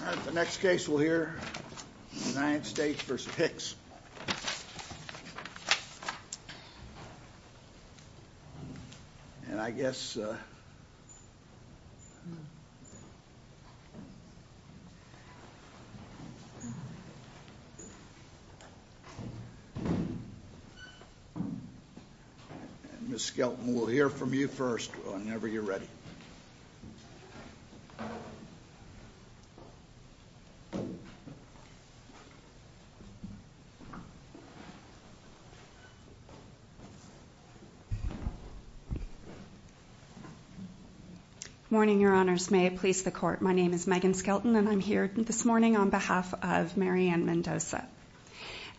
All right, the next case we'll hear is United States v. Hicks. And I guess, uh... Miss Skelton, we'll hear from you first whenever you're ready. Morning, Your Honors, may it please the Court, my name is Megan Skelton, and I'm here this morning on behalf of Mary Ann Mendoza.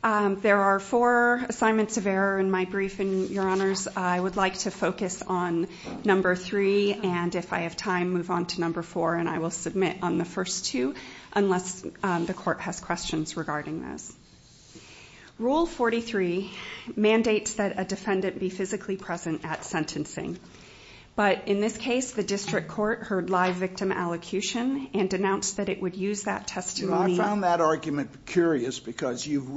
There are four assignments of error in my briefing, Your Honors. I would like to focus on number three, and if I have time, move on to number four, and I will submit on the first two, unless the Court has questions regarding those. Rule 43 mandates that a defendant be physically present at sentencing. But in this case, the District Court heard live victim allocution and denounced that it would use that testimony... I found that argument curious, because you've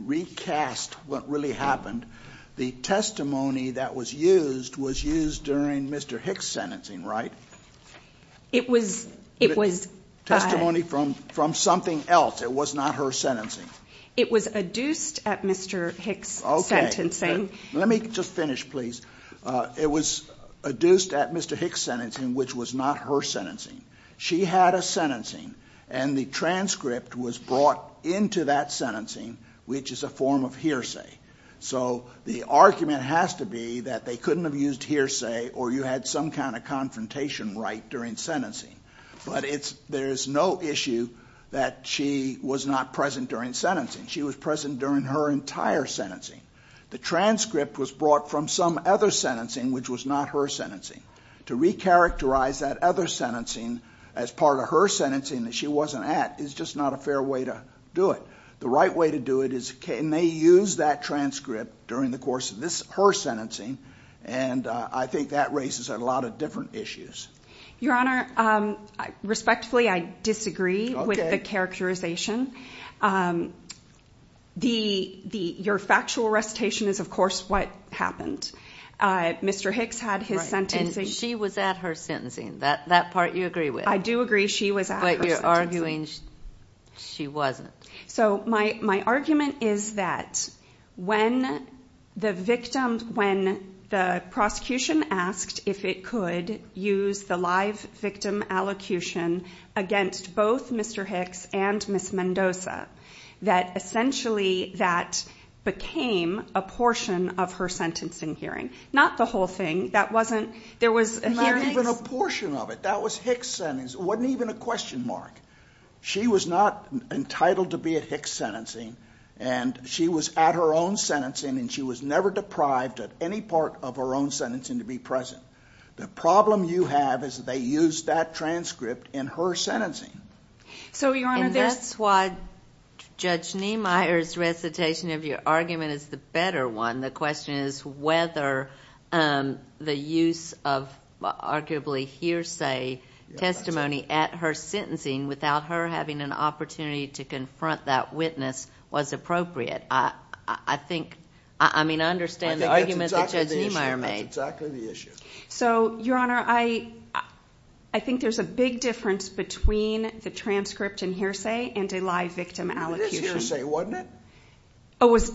recast what really happened. The testimony that was used was used during Mr. Hicks' sentencing, right? It was... It was... Testimony from something else, it was not her sentencing. It was adduced at Mr. Hicks' sentencing. Okay, let me just finish, please. It was adduced at Mr. Hicks' sentencing, which was not her sentencing. She had a sentencing, and the transcript was brought into that sentencing, which is a form of hearsay. So the argument has to be that they couldn't have used hearsay, or you had some kind of confrontation right during sentencing. But it's... There's no issue that she was not present during sentencing. She was present during her entire sentencing. The transcript was brought from some other sentencing, which was not her sentencing. To recharacterize that other sentencing as part of her sentencing that she wasn't at is just not a fair way to do it. The right way to do it is, can they use that transcript during the course of her sentencing? And I think that raises a lot of different issues. Your Honor, respectfully, I disagree with the characterization. Your factual recitation is, of course, what happened. Mr. Hicks had his sentencing... Right, and she was at her sentencing, that part you agree with. I do agree she was at her sentencing. But you're arguing she wasn't. So my argument is that when the prosecution asked if it could use the live victim allocution against both Mr. Hicks and Ms. Mendoza, that essentially that became a portion of her sentencing hearing. Not the whole thing. That wasn't... There was a hearing... Not even a portion of it. That was Hicks' sentence. It wasn't even a question mark. She was not entitled to be at Hicks' sentencing, and she was at her own sentencing, and she was never deprived of any part of her own sentencing to be present. The problem you have is that they used that transcript in her sentencing. So Your Honor, there's... And that's why Judge Niemeyer's recitation of your argument is the better one. The question is whether the use of arguably hearsay testimony at her sentencing without her having an opportunity to confront that witness was appropriate. I think... I mean, I understand the argument that Judge Niemeyer made. That's exactly the issue. So Your Honor, I think there's a big difference between the transcript and hearsay and a live victim allocution. It is hearsay, wasn't it?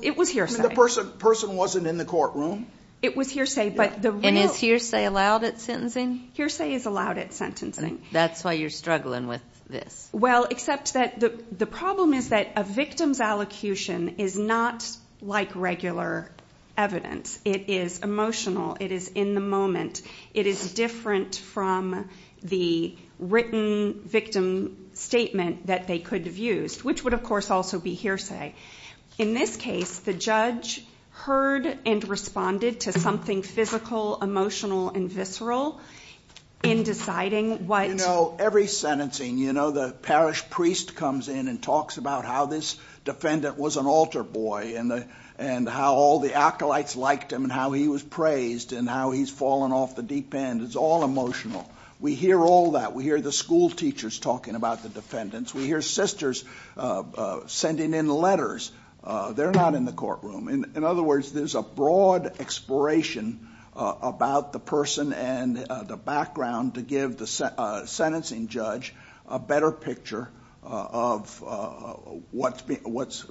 It was hearsay. I mean, the person wasn't in the courtroom? It was hearsay, but the real... And is hearsay allowed at sentencing? Hearsay is allowed at sentencing. That's why you're struggling with this. Well, except that the problem is that a victim's allocution is not like regular evidence. It is emotional. It is in the moment. It is different from the written victim statement that they could have used, which would, of course, also be hearsay. In this case, the judge heard and responded to something physical, emotional, and visceral in deciding what... You know, every sentencing, you know, the parish priest comes in and talks about how this defendant was an altar boy and how all the acolytes liked him and how he was praised and how he's fallen off the deep end. It's all emotional. We hear all that. We hear the schoolteachers talking about the defendants. We hear sisters sending in letters. They're not in the courtroom. In other words, there's a broad exploration about the person and the background to give the sentencing judge a better picture of what's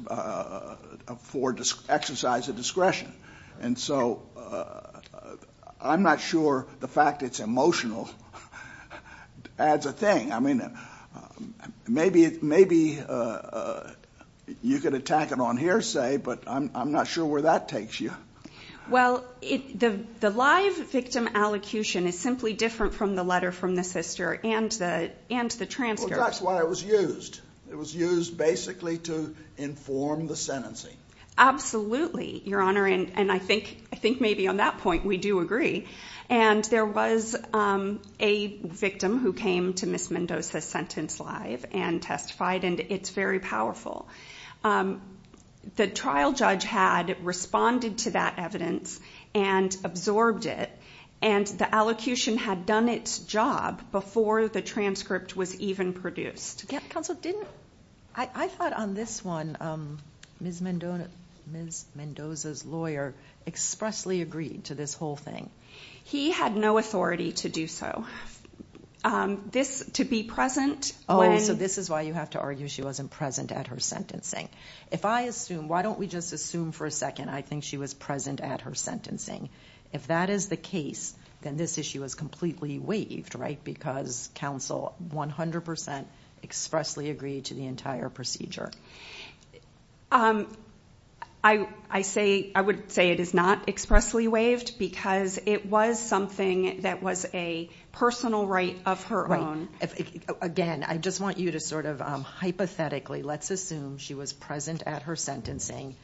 for exercise of discretion. And so I'm not sure the fact it's emotional adds a thing. I mean, maybe you could attack it on hearsay, but I'm not sure where that takes you. Well, the live victim allocution is simply different from the letter from the sister and the transfer. Well, that's why it was used. It was used basically to inform the sentencing. Absolutely, Your Honor, and I think maybe on that point we do agree. And there was a victim who came to Ms. Mendoza's sentence live and testified, and it's very powerful. The trial judge had responded to that evidence and absorbed it, and the allocution had done its job before the transcript was even produced. Counsel, didn't I thought on this one Ms. Mendoza's lawyer expressly agreed to this whole thing? He had no authority to do so. This to be present when... Oh, so this is why you have to argue she wasn't present at her sentencing. If I assume, why don't we just assume for a second I think she was present at her sentencing. If that is the case, then this issue is completely waived, right? Because counsel 100% expressly agreed to the entire procedure. I would say it is not expressly waived because it was something that was a personal right of her own. Again, I just want you to sort of hypothetically, let's assume she was present at her sentencing.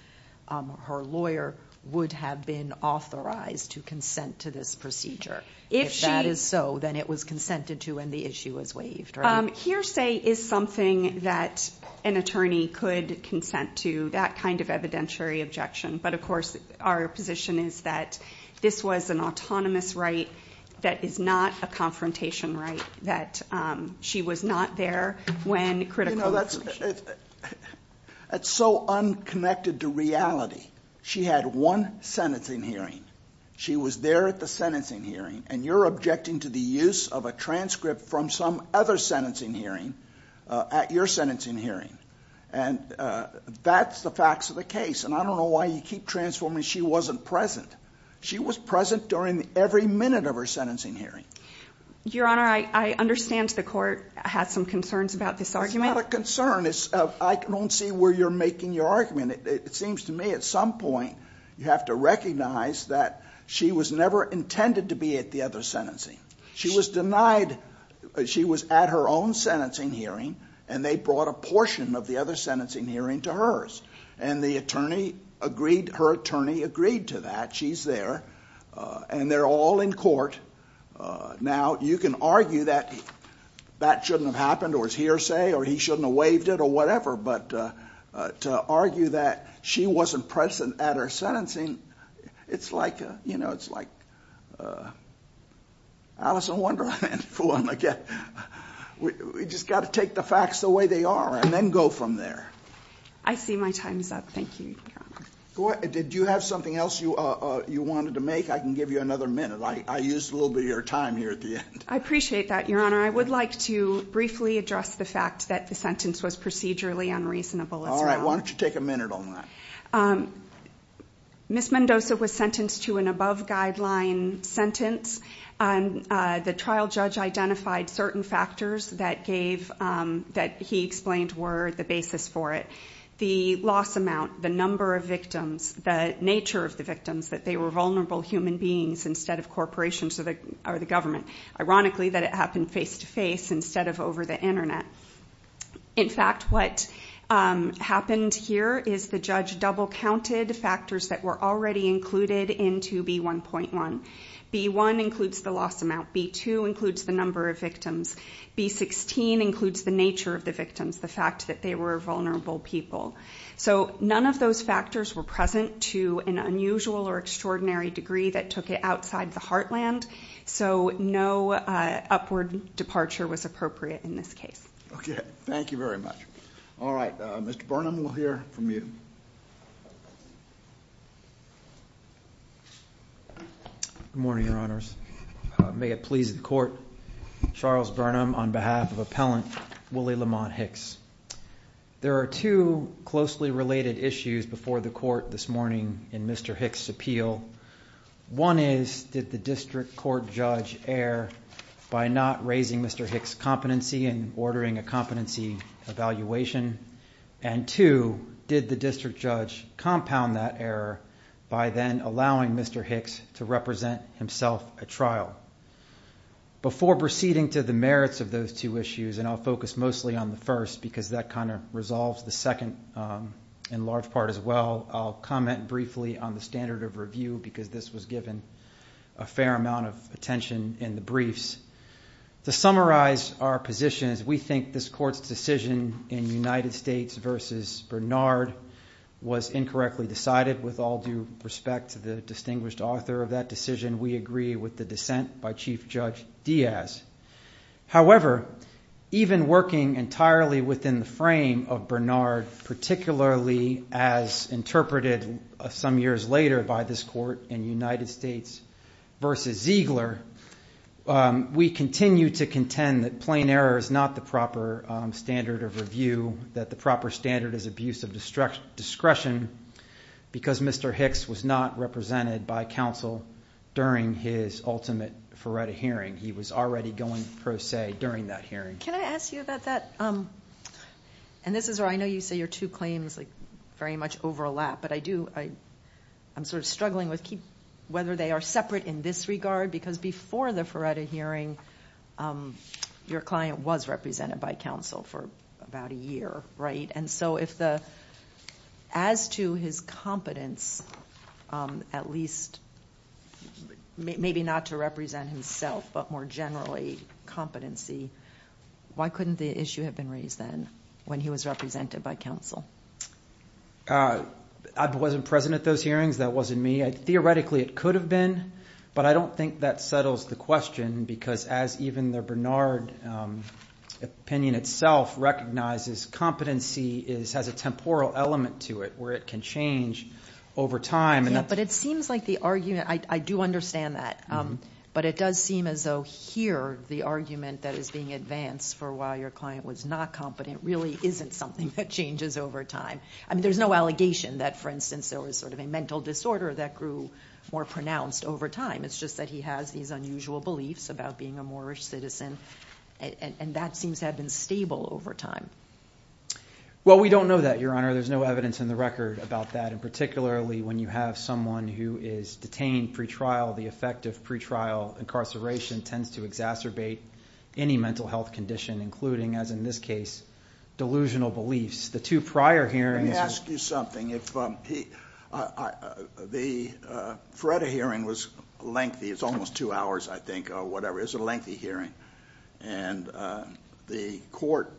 Her lawyer would have been authorized to consent to this procedure. If that is so, then it was consented to and the issue was waived, right? My hearsay is something that an attorney could consent to, that kind of evidentiary objection. But of course, our position is that this was an autonomous right that is not a confrontation right, that she was not there when critical... That's so unconnected to reality. She had one sentencing hearing. She was there at the sentencing hearing and you're objecting to the use of a transcript from some other sentencing hearing at your sentencing hearing. And that's the facts of the case. And I don't know why you keep transforming she wasn't present. She was present during every minute of her sentencing hearing. Your Honor, I understand the court had some concerns about this argument. It's not a concern. I don't see where you're making your argument. It seems to me at some point, you have to recognize that she was never intended to be at the other sentencing. She was denied... She was at her own sentencing hearing and they brought a portion of the other sentencing hearing to hers. And the attorney agreed... Her attorney agreed to that. She's there. And they're all in court. Now you can argue that that shouldn't have happened or it's hearsay or he shouldn't have waived it or whatever. But to argue that she wasn't present at her sentencing, it's like, you know, it's like uh... Alice, I wonder if I can fool them again. We just got to take the facts the way they are and then go from there. I see my time's up. Thank you, Your Honor. Did you have something else you wanted to make? I can give you another minute. I used a little bit of your time here at the end. I appreciate that, Your Honor. I would like to briefly address the fact that the sentence was procedurally unreasonable as well. All right. Why don't you take a minute on that? Ms. Mendoza was sentenced to an above-guideline sentence. The trial judge identified certain factors that gave... That he explained were the basis for it. The loss amount, the number of victims, the nature of the victims, that they were vulnerable human beings instead of corporations or the government. Ironically, that it happened face-to-face instead of over the internet. In fact, what happened here is the judge double-counted factors that were already included into B1.1. B1 includes the loss amount. B2 includes the number of victims. B16 includes the nature of the victims, the fact that they were vulnerable people. So none of those factors were present to an unusual or extraordinary degree that took it outside the heartland. So no upward departure was appropriate in this case. Okay. Thank you very much. All right. Mr. Burnham, we'll hear from you. Good morning, Your Honors. May it please the court. Charles Burnham on behalf of Appellant Willie Lamont Hicks. There are two closely related issues before the court this morning in Mr. Hicks' appeal. One is, did the district court judge err by not raising Mr. Hicks' competency and ordering a competency evaluation? And two, did the district judge compound that error by then allowing Mr. Hicks to represent himself at trial? Before proceeding to the merits of those two issues, and I'll focus mostly on the first because that kind of resolves the second in large part as well, I'll comment briefly on the standard of review because this was given a fair amount of attention in the briefs. To summarize our positions, we think this court's decision in United States versus Bernard was incorrectly decided. With all due respect to the distinguished author of that decision, we agree with the dissent by Chief Judge Diaz. However, even working entirely within the frame of Bernard, particularly as interpreted some years later by this court in United States versus Ziegler, we continue to contend that plain error is not the proper standard of review, that the proper standard is abuse of discretion because Mr. Hicks was not represented by counsel during his ultimate Faretta hearing. He was already going pro se during that hearing. Can I ask you about that? This is where I know you say your two claims very much overlap, but I'm sort of struggling with whether they are separate in this regard because before the Faretta hearing, your client was represented by counsel for about a year. As to his competence, at least maybe not to represent himself, but more generally competency, why couldn't the issue have been raised then when he was represented by counsel? I wasn't present at those hearings. That wasn't me. Theoretically, it could have been, but I don't think that settles the question because as even the Bernard opinion itself recognizes, competency has a temporal element to it where it can change over time. It seems like the argument, I do understand that, but it does seem as though here the argument that is being advanced for why your client was not competent really isn't something that changes over time. There's no allegation that, for instance, there was sort of a mental disorder that grew more pronounced over time. It's just that he has these unusual beliefs about being a more rich citizen, and that seems to have been stable over time. Well, we don't know that, Your Honor. There's no evidence in the record about that, and particularly when you have someone who is detained pretrial, the effect of pretrial incarceration tends to exacerbate any mental health condition, including, as in this case, delusional beliefs. The two prior hearings- Let me ask you something. The Feretta hearing was lengthy. It's almost two hours, I think, or whatever. It was a lengthy hearing, and the court,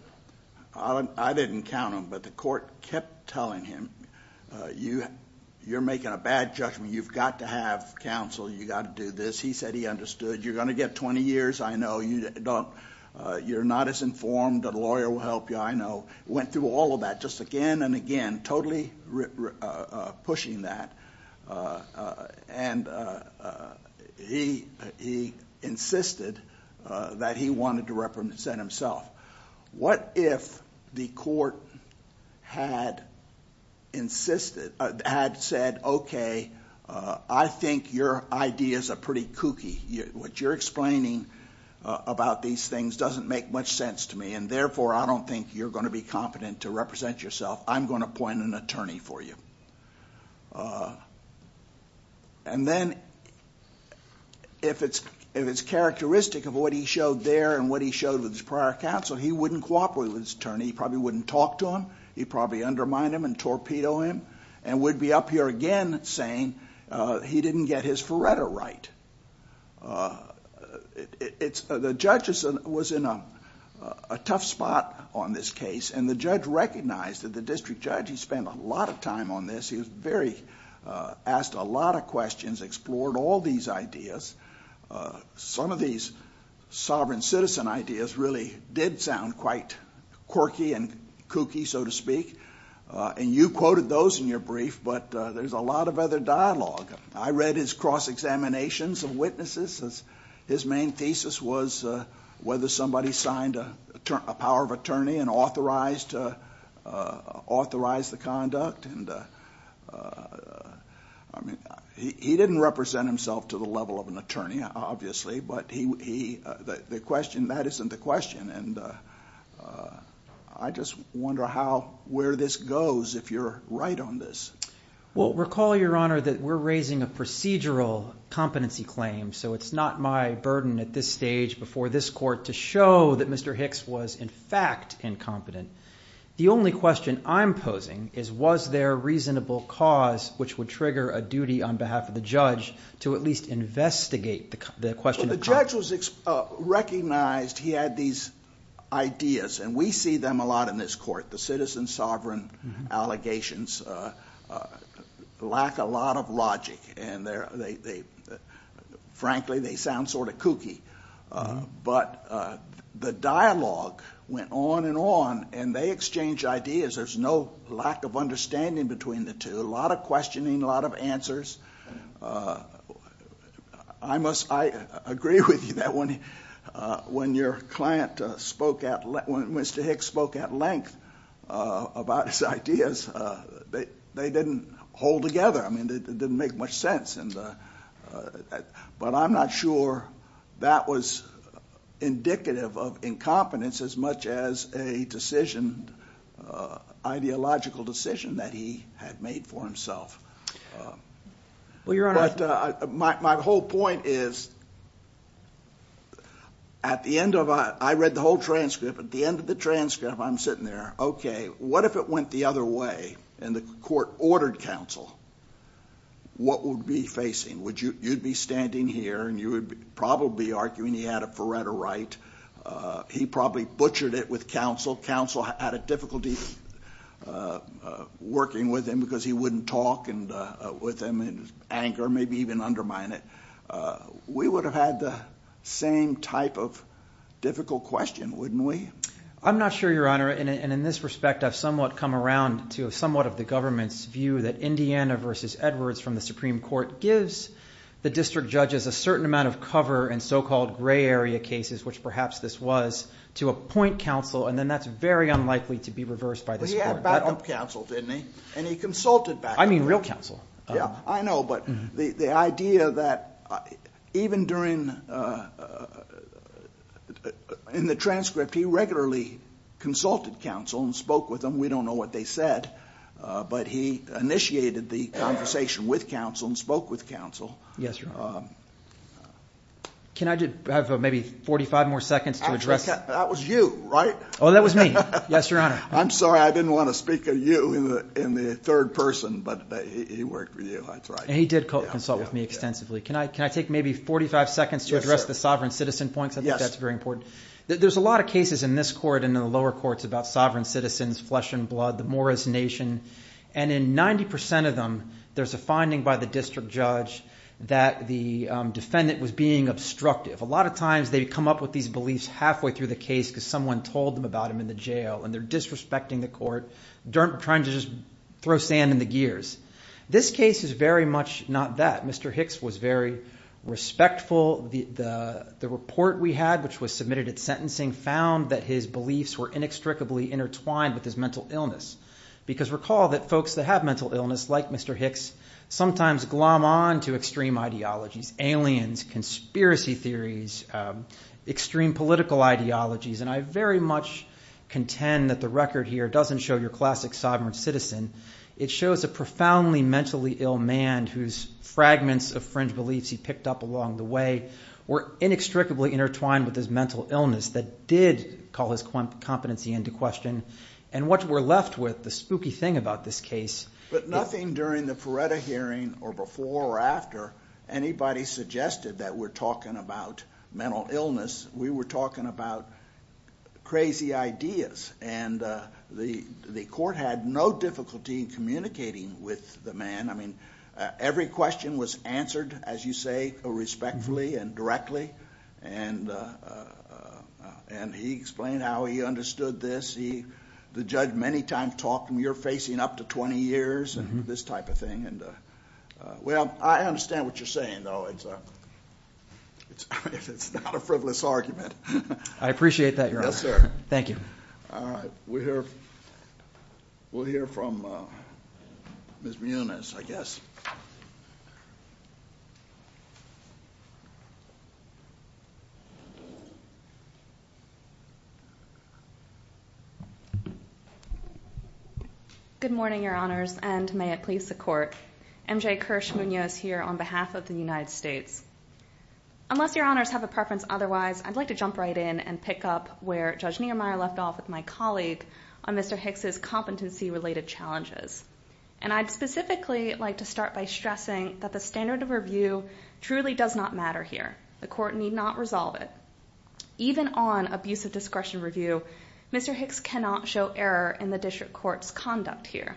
I didn't count them, but the court kept telling him, you're making a bad judgment. You've got to have counsel. You've got to do this. He said he understood. You're going to get 20 years, I know. You're not as informed. A lawyer will help you, I know. Went through all of that just again and again, totally pushing that, and he insisted that he wanted to represent himself. What if the court had insisted, had said, okay, I think your ideas are pretty kooky. What you're explaining about these things doesn't make much sense to me, and therefore, I don't think you're going to be competent to represent yourself. I'm going to appoint an attorney for you. Then, if it's characteristic of what he showed there and what he showed with his prior counsel, he wouldn't cooperate with his attorney. He probably wouldn't talk to him. He'd probably undermine him and torpedo him, and we'd be up here again saying he didn't get his Feretta right. The judge was in a tough spot on this case, and the judge recognized that the district judge, he spent a lot of time on this. He was very, asked a lot of questions, explored all these ideas. Some of these sovereign citizen ideas really did sound quite quirky and kooky, so to speak. You quoted those in your brief, but there's a lot of other dialogue. I read his cross-examinations of witnesses. His main thesis was whether somebody signed a power of attorney and authorized the conduct. He didn't represent himself to the level of an attorney, obviously, but the question, that isn't the question. I just wonder where this goes if you're right on this. Recall, Your Honor, that we're raising a procedural competency claim, so it's not my burden at this stage before this court to show that Mr. Hicks was, in fact, incompetent. The only question I'm posing is, was there a reasonable cause which would trigger a duty on behalf of the judge to at least investigate the question of competence? The judge recognized he had these ideas, and we see them a lot in this court, the citizen lack a lot of logic, and frankly, they sound sort of kooky. But the dialogue went on and on, and they exchanged ideas. There's no lack of understanding between the two, a lot of questioning, a lot of answers. I must, I agree with you that when your client spoke at, when Mr. Hicks spoke at length about his ideas, they didn't hold together. I mean, it didn't make much sense, but I'm not sure that was indicative of incompetence as much as a decision, ideological decision that he had made for himself. But my whole point is, at the end of, I read the whole transcript, at the end of the transcript, I'm sitting there. Okay, what if it went the other way, and the court ordered counsel? What would be facing? Would you, you'd be standing here, and you would probably be arguing he had a forerunner right. He probably butchered it with counsel. Counsel had a difficulty working with him because he wouldn't talk and with him in anger, maybe even undermine it. We would have had the same type of difficult question, wouldn't we? I'm not sure, your honor, and in this respect, I've somewhat come around to somewhat of the government's view that Indiana versus Edwards from the Supreme Court gives the district judges a certain amount of cover in so-called gray area cases, which perhaps this was, to appoint counsel, and then that's very unlikely to be reversed by this court. But he had backup counsel, didn't he? And he consulted backup. I mean real counsel. Yeah, I know, but the idea that even during, in the transcript, he regularly consulted counsel and spoke with them. We don't know what they said, but he initiated the conversation with counsel and spoke with counsel. Yes, your honor. Can I have maybe 45 more seconds to address? That was you, right? Oh, that was me. Yes, your honor. I'm sorry, I didn't want to speak of you in the third person, but he worked with you, that's right. And he did consult with me extensively. Can I take maybe 45 seconds to address the sovereign citizen points? I think that's very important. There's a lot of cases in this court and in the lower courts about sovereign citizens, flesh and blood, the Morris Nation. And in 90% of them, there's a finding by the district judge that the defendant was being obstructive. A lot of times they come up with these beliefs halfway through the case because someone told them about him in the jail and they're disrespecting the court, trying to just throw sand in the gears. This case is very much not that. Mr. Hicks was very respectful. The report we had, which was submitted at sentencing, found that his beliefs were inextricably intertwined with his mental illness. Because recall that folks that have mental illness, like Mr. Hicks, sometimes glom on to extreme ideologies, aliens, conspiracy theories, extreme political ideologies. And I very much contend that the record here doesn't show your classic sovereign citizen. It shows a profoundly mentally ill man whose fragments of fringe beliefs he picked up along the way were inextricably intertwined with his mental illness that did call his competency into question. And what we're left with, the spooky thing about this case- But nothing during the Peretta hearing, or before or after, anybody suggested that we're talking about mental illness. We were talking about crazy ideas. And the court had no difficulty in communicating with the man. I mean, every question was answered, as you say, respectfully and directly. And he explained how he understood this. The judge many times talked, and you're facing up to 20 years, and this type of thing. And well, I understand what you're saying, though, it's not a frivolous argument. I appreciate that, Your Honor. Yes, sir. Thank you. All right, we'll hear from Ms. Munoz, I guess. Good morning, Your Honors, and may it please the court. MJ Kirsh Munoz here on behalf of the United States. Unless Your Honors have a preference otherwise, I'd like to jump right in and pick up where Judge Niemeyer left off with my colleague on Mr. Hicks' competency related challenges. And I'd specifically like to start by stressing that the standard of review truly does not matter here. The court need not resolve it. Even on abusive discretion review, Mr. Hicks cannot show error in the district court's conduct here.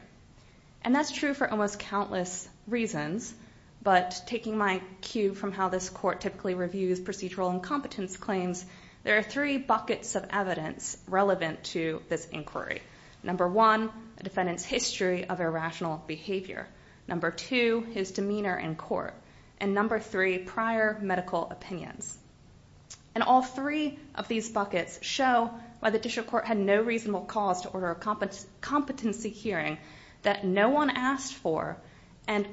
And that's true for almost countless reasons. But taking my cue from how this court typically reviews procedural incompetence claims, there are three buckets of evidence relevant to this inquiry. Number one, a defendant's history of irrational behavior. Number two, his demeanor in court. And number three, prior medical opinions. And all three of these buckets show why the district court had no reasonable cause to order a competency hearing that no one asked for. And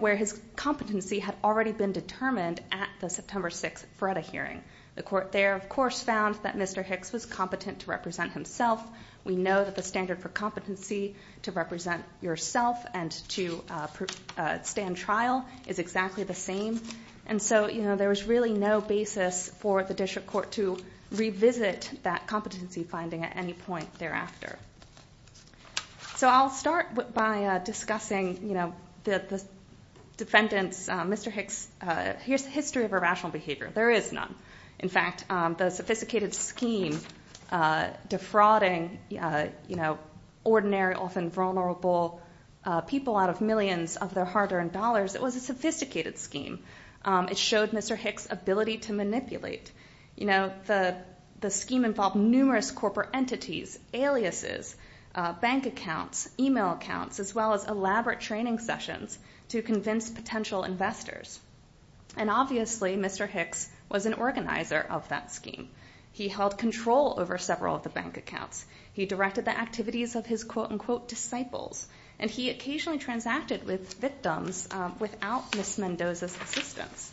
where his competency had already been determined at the September 6th FREDA hearing. The court there, of course, found that Mr. Hicks was competent to represent himself. We know that the standard for competency to represent yourself and to stand trial is exactly the same. And so there was really no basis for the district court to revisit that competency finding at any point thereafter. So I'll start by discussing the defendant's, Mr. Hicks, his history of irrational behavior. There is none. In fact, the sophisticated scheme defrauding ordinary, often vulnerable people out of millions of their hard earned dollars, it was a sophisticated scheme. It showed Mr. Hicks' ability to manipulate. The scheme involved numerous corporate entities, aliases, bank accounts, email accounts, as well as elaborate training sessions to convince potential investors. And obviously, Mr. Hicks was an organizer of that scheme. He held control over several of the bank accounts. He directed the activities of his quote unquote disciples. And he occasionally transacted with victims without Ms. Mendoza's assistance.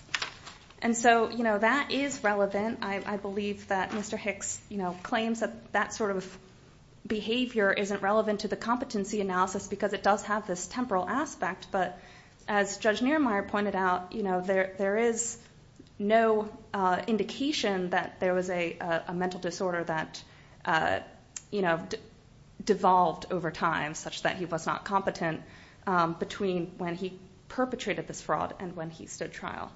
And so that is relevant. I believe that Mr. Hicks claims that that sort of behavior isn't relevant to the competency analysis because it does have this temporal aspect. But as Judge Niermeyer pointed out, there is no indication that there was a mental disorder that devolved over time, such that he was not competent between when he perpetrated this fraud and when he stood trial.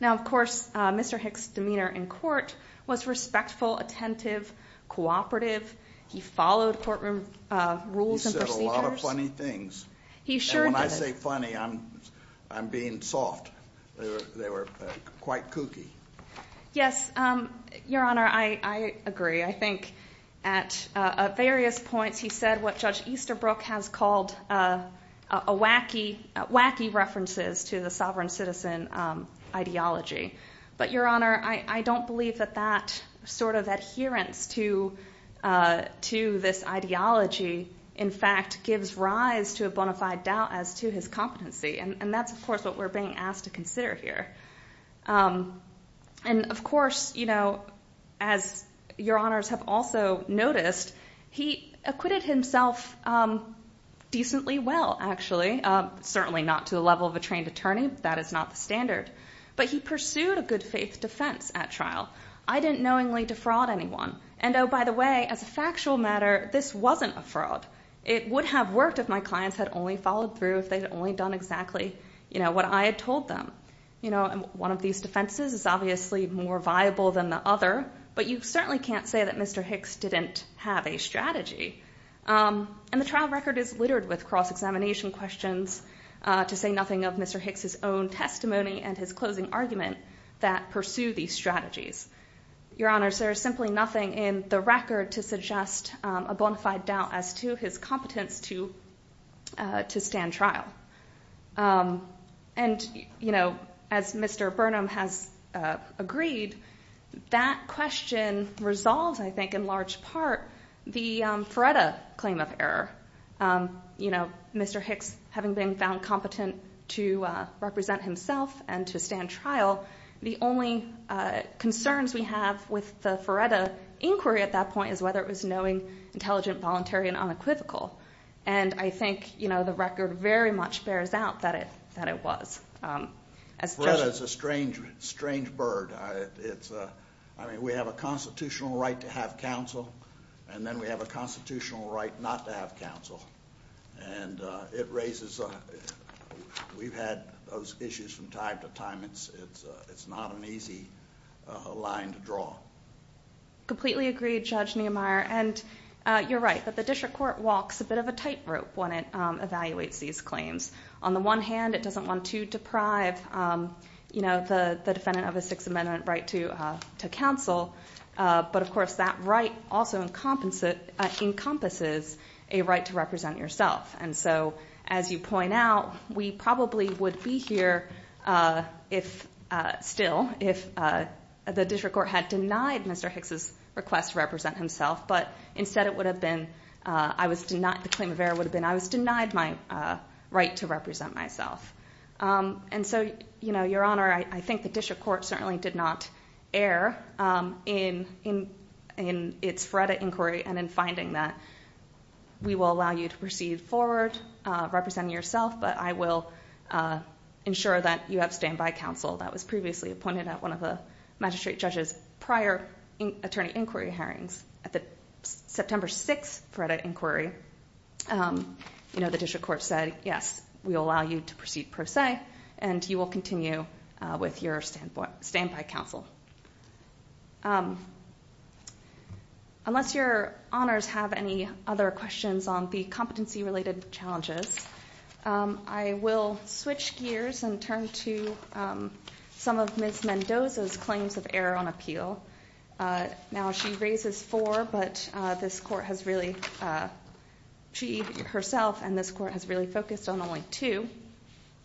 Now, of course, Mr. Hicks' demeanor in court was respectful, attentive, cooperative. He followed courtroom rules and procedures. And when I say funny, I'm being soft. They were quite kooky. Yes, your honor, I agree. I think at various points, he said what Judge Easterbrook has called a wacky, wacky references to the sovereign citizen ideology. But your honor, I don't believe that that sort of adherence to to this ideology, in fact, gives rise to a bona fide doubt as to his competency. And that's, of course, what we're being asked to consider here. And of course, you know, as your honors have also noticed, he acquitted himself decently well, actually. Certainly not to the level of a trained attorney. That is not the standard. But he pursued a good faith defense at trial. I didn't knowingly defraud anyone. And oh, by the way, as a factual matter, this wasn't a fraud. It would have worked if my clients had only followed through, if they'd only done exactly, you know, what I had told them. You know, one of these defenses is obviously more viable than the other. But you certainly can't say that Mr. Hicks didn't have a strategy. And the trial record is littered with cross-examination questions, to say nothing of Mr. Hicks' own testimony and his closing argument that pursue these strategies. Your honors, there is simply nothing in the record to suggest a bona fide doubt as to his competence to stand trial. And, you know, as Mr. Burnham has agreed, that question resolves, I think, in large part, the Fredda claim of error. You know, Mr. Hicks, having been found competent to represent himself and to stand trial, the only concerns we have with the Fredda inquiry at that point, is whether it was knowing, intelligent, voluntary, and unequivocal. And I think, you know, the record very much bears out that it, that it was. As Fredda's a strange, strange bird. It's I mean, we have a constitutional right to have counsel. And then we have a constitutional right not to have counsel. And it raises, we've had those issues from time to time. It's, it's not an easy line to draw. Completely agree, Judge Niemeyer. And you're right, that the district court walks a bit of a tightrope when it evaluates these claims. On the one hand, it doesn't want to deprive, you know, the defendant of a Sixth Amendment right to counsel. But of course, that right also encompasses a right to represent yourself. And so, as you point out, we probably would be here if, still, if the district court had denied Mr. Hicks' request to represent himself. But instead it would have been, I was denied, the claim of error would have been, I was denied my right to represent myself. And so, you know, your honor, I think the district court certainly did not err in, in, in its Fredda inquiry and in finding that we will allow you to proceed forward representing yourself. But I will ensure that you have standby counsel. That was previously appointed at one of the magistrate judge's prior attorney inquiry hearings. At the September 6th Fredda inquiry, you know, the district court said, yes, we'll allow you to proceed per se, and you will continue with your standpoint, standby counsel. Unless your honors have any other questions on the competency related challenges, I will switch gears and turn to some of Ms. Mendoza's claims of error on appeal. Now she raises four, but this court has really, she herself and this court has really focused on only two.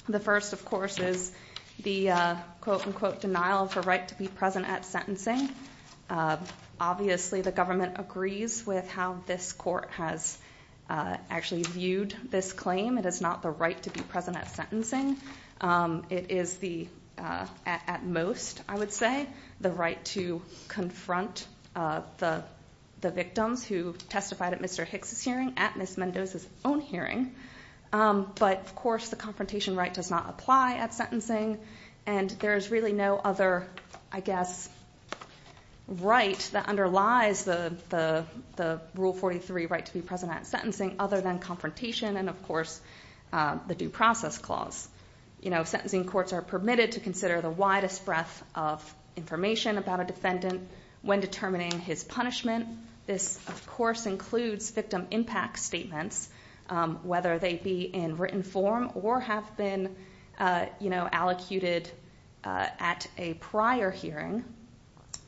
The first, of course, is the quote, unquote, denial of the right to be present at sentencing. Obviously, the government agrees with how this court has actually viewed this claim. It is not the right to be present at sentencing. It is the, at most, I would say, the right to confront the victims who testified at Mr. Hicks' hearing at Ms. Mendoza's own hearing. But, of course, the confrontation right does not apply at sentencing. And there is really no other, I guess, right that underlies the Rule 43 right to be present at sentencing other than confrontation and, of course, the due process clause. Sentencing courts are permitted to consider the widest breadth of information about a defendant when determining his punishment. This, of course, includes victim impact statements, whether they be in written form or have been allocated at a prior hearing.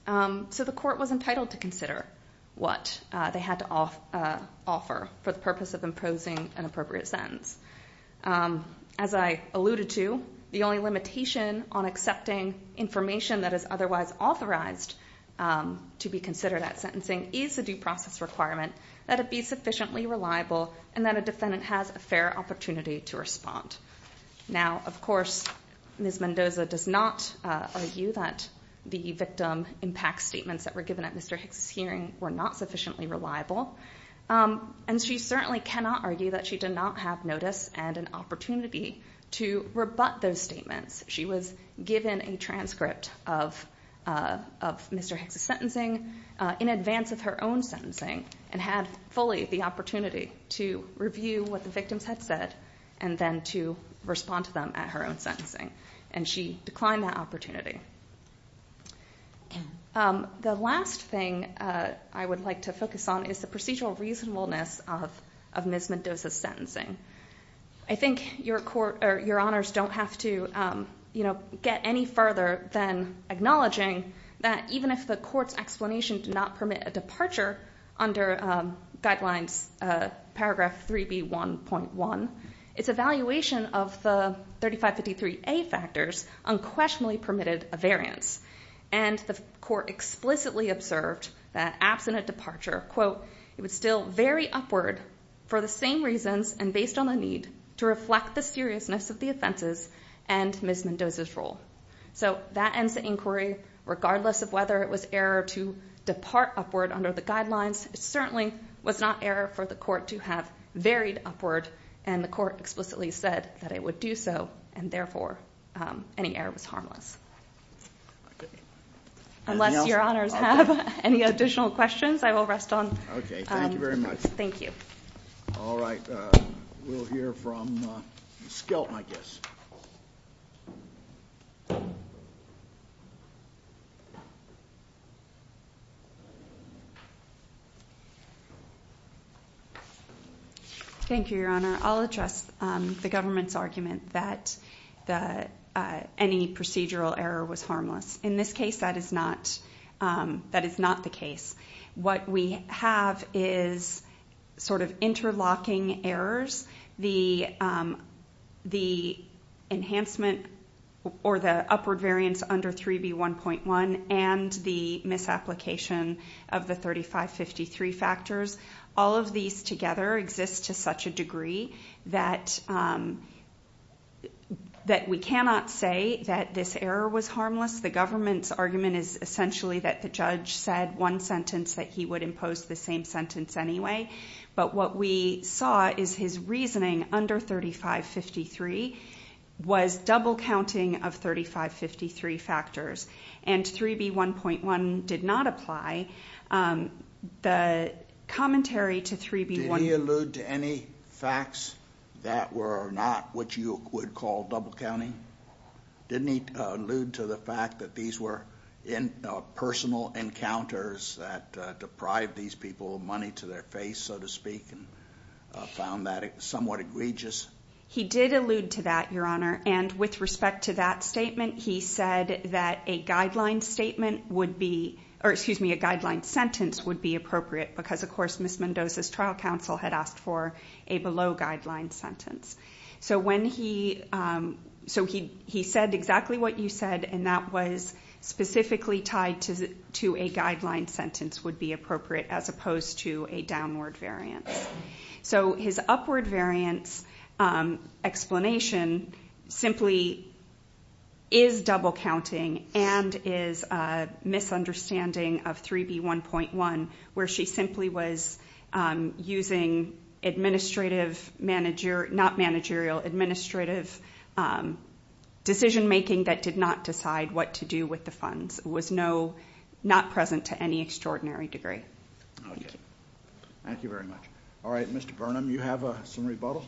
So the court was entitled to consider what they had to offer for the purpose of imposing an appropriate sentence. As I alluded to, the only limitation on accepting information that is otherwise authorized to be considered at sentencing is the due process requirement that it be sufficiently reliable and that a defendant has a fair opportunity to respond. Now, of course, Ms. Mendoza does not argue that the victim impact statements that were given at Mr. Hicks' hearing were not sufficiently reliable. And she certainly cannot argue that she did not have notice and an opportunity to rebut those statements. She was given a transcript of Mr. Hicks' sentencing in advance of her own sentencing and had fully the opportunity to review what the victims had said and then to respond to them at her own sentencing, and she declined that opportunity. The last thing I would like to focus on is the procedural reasonableness of Ms. Mendoza's sentencing. I think your honors don't have to get any further than acknowledging that even if the court's explanation did not permit a departure under guidelines paragraph 3B1.1, its evaluation of the 3553A factors unquestionably permitted a variance. And the court explicitly observed that absent a departure, quote, it would still vary upward for the same reasons and based on the need to reflect the seriousness of the offenses and Ms. Mendoza's role. So that ends the inquiry, regardless of whether it was error to depart upward under the guidelines. It certainly was not error for the court to have varied upward and the court explicitly said that it would do so and therefore any error was harmless. Unless your honors have any additional questions, I will rest on. Okay, thank you very much. Thank you. All right, we'll hear from Skelton, I guess. Thank you, your honor. I'll address the government's argument that any procedural error was harmless. In this case, that is not the case. What we have is sort of interlocking errors. The enhancement or the upward variance under 3B1.1 and the misapplication of the 3553 factors. All of these together exist to such a degree that we cannot say that this error was harmless. The government's argument is essentially that the judge said one sentence that he would impose the same sentence anyway. But what we saw is his reasoning under 3553 was double counting of 3553 factors. And 3B1.1 did not apply. The commentary to 3B1- Did he allude to any facts that were not what you would call double counting? Didn't he allude to the fact that these were personal encounters that deprived these people of money to their face, so to speak, and found that somewhat egregious? He did allude to that, your honor. And with respect to that statement, he said that a guideline statement would be, or excuse me, a guideline sentence would be appropriate because of course Ms. Mendoza's trial counsel had asked for a below guideline sentence. So when he, so he said exactly what you said and that was specifically tied to a guideline sentence would be appropriate as opposed to a downward variance. So his upward variance explanation simply is double counting and is a misunderstanding of 3B1.1 where she simply was using administrative manager, not managerial, administrative decision making that did not decide what to do with the funds. It was no, not present to any extraordinary degree. Thank you very much. All right, Mr. Burnham, you have some rebuttal?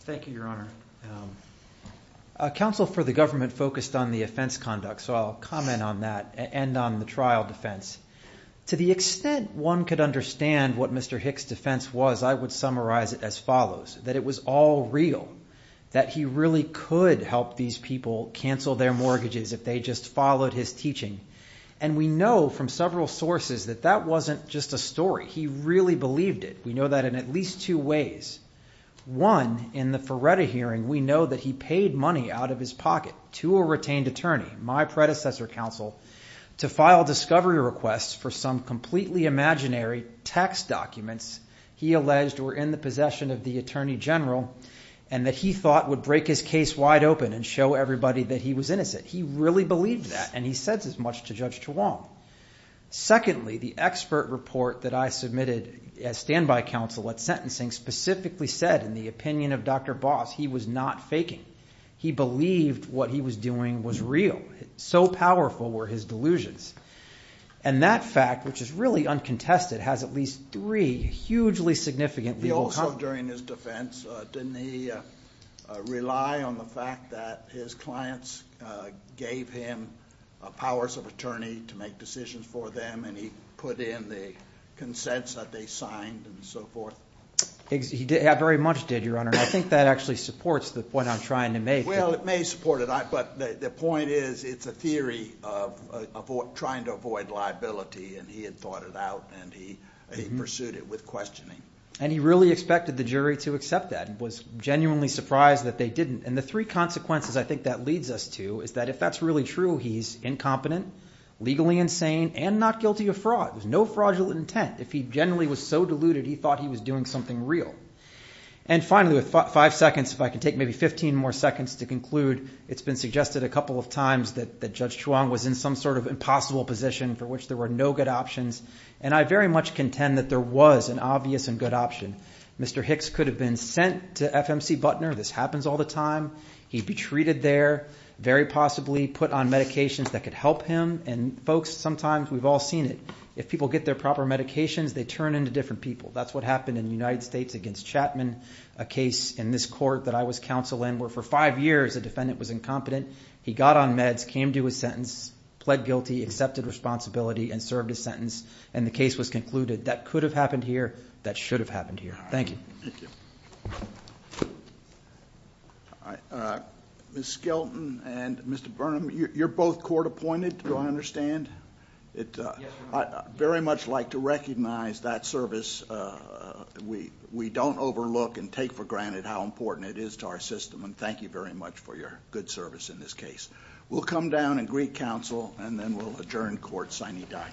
Thank you, your honor. Counsel for the government focused on the offense conduct, so I'll comment on that and on the trial defense. To the extent one could understand what Mr. Hick's defense was, I would summarize it as follows. That it was all real. That he really could help these people cancel their mortgages if they just followed his teaching. And we know from several sources that that wasn't just a story. He really believed it. We know that in at least two ways. One, in the Feretta hearing, we know that he paid money out of his pocket to a retained attorney, my predecessor counsel, to file discovery requests for some completely imaginary tax documents. He alleged were in the possession of the attorney general and that he thought would break his case wide open and show everybody that he was innocent. He really believed that and he said as much to Judge Chuang. Secondly, the expert report that I submitted as standby counsel at sentencing specifically said, in the opinion of Dr. Boss, he was not faking. He believed what he was doing was real. So powerful were his delusions. And that fact, which is really uncontested, has at least three hugely significant legal- Also during his defense, didn't he rely on the fact that his clients gave him powers of attorney to make decisions for them and he put in the consents that they signed and so forth? He very much did, your honor. I think that actually supports the point I'm trying to make. Well, it may support it, but the point is, it's a theory of trying to avoid liability and he had thought it out and he pursued it with questioning. And he really expected the jury to accept that and was genuinely surprised that they didn't. And the three consequences I think that leads us to is that if that's really true, he's incompetent, legally insane, and not guilty of fraud. There's no fraudulent intent. If he generally was so deluded, he thought he was doing something real. And finally, with five seconds, if I can take maybe 15 more seconds to conclude, it's been suggested a couple of times that Judge Chuang was in some sort of impossible position for which there were no good options. And I very much contend that there was an obvious and good option. Mr. Hicks could have been sent to FMC Butner. This happens all the time. He'd be treated there, very possibly put on medications that could help him. And folks, sometimes we've all seen it. If people get their proper medications, they turn into different people. That's what happened in the United States against Chapman, a case in this court that I was counsel in where for five years a defendant was incompetent. He got on meds, came to his sentence, pled guilty, accepted responsibility, and served his sentence, and the case was concluded. That could have happened here. That should have happened here. Thank you. Thank you. Ms. Skelton and Mr. Burnham, you're both court appointed, do I understand? I'd very much like to recognize that service. We don't overlook and take for granted how important it is to our system, and thank you very much for your good service in this case. We'll come down and greet counsel, and then we'll adjourn court sine die.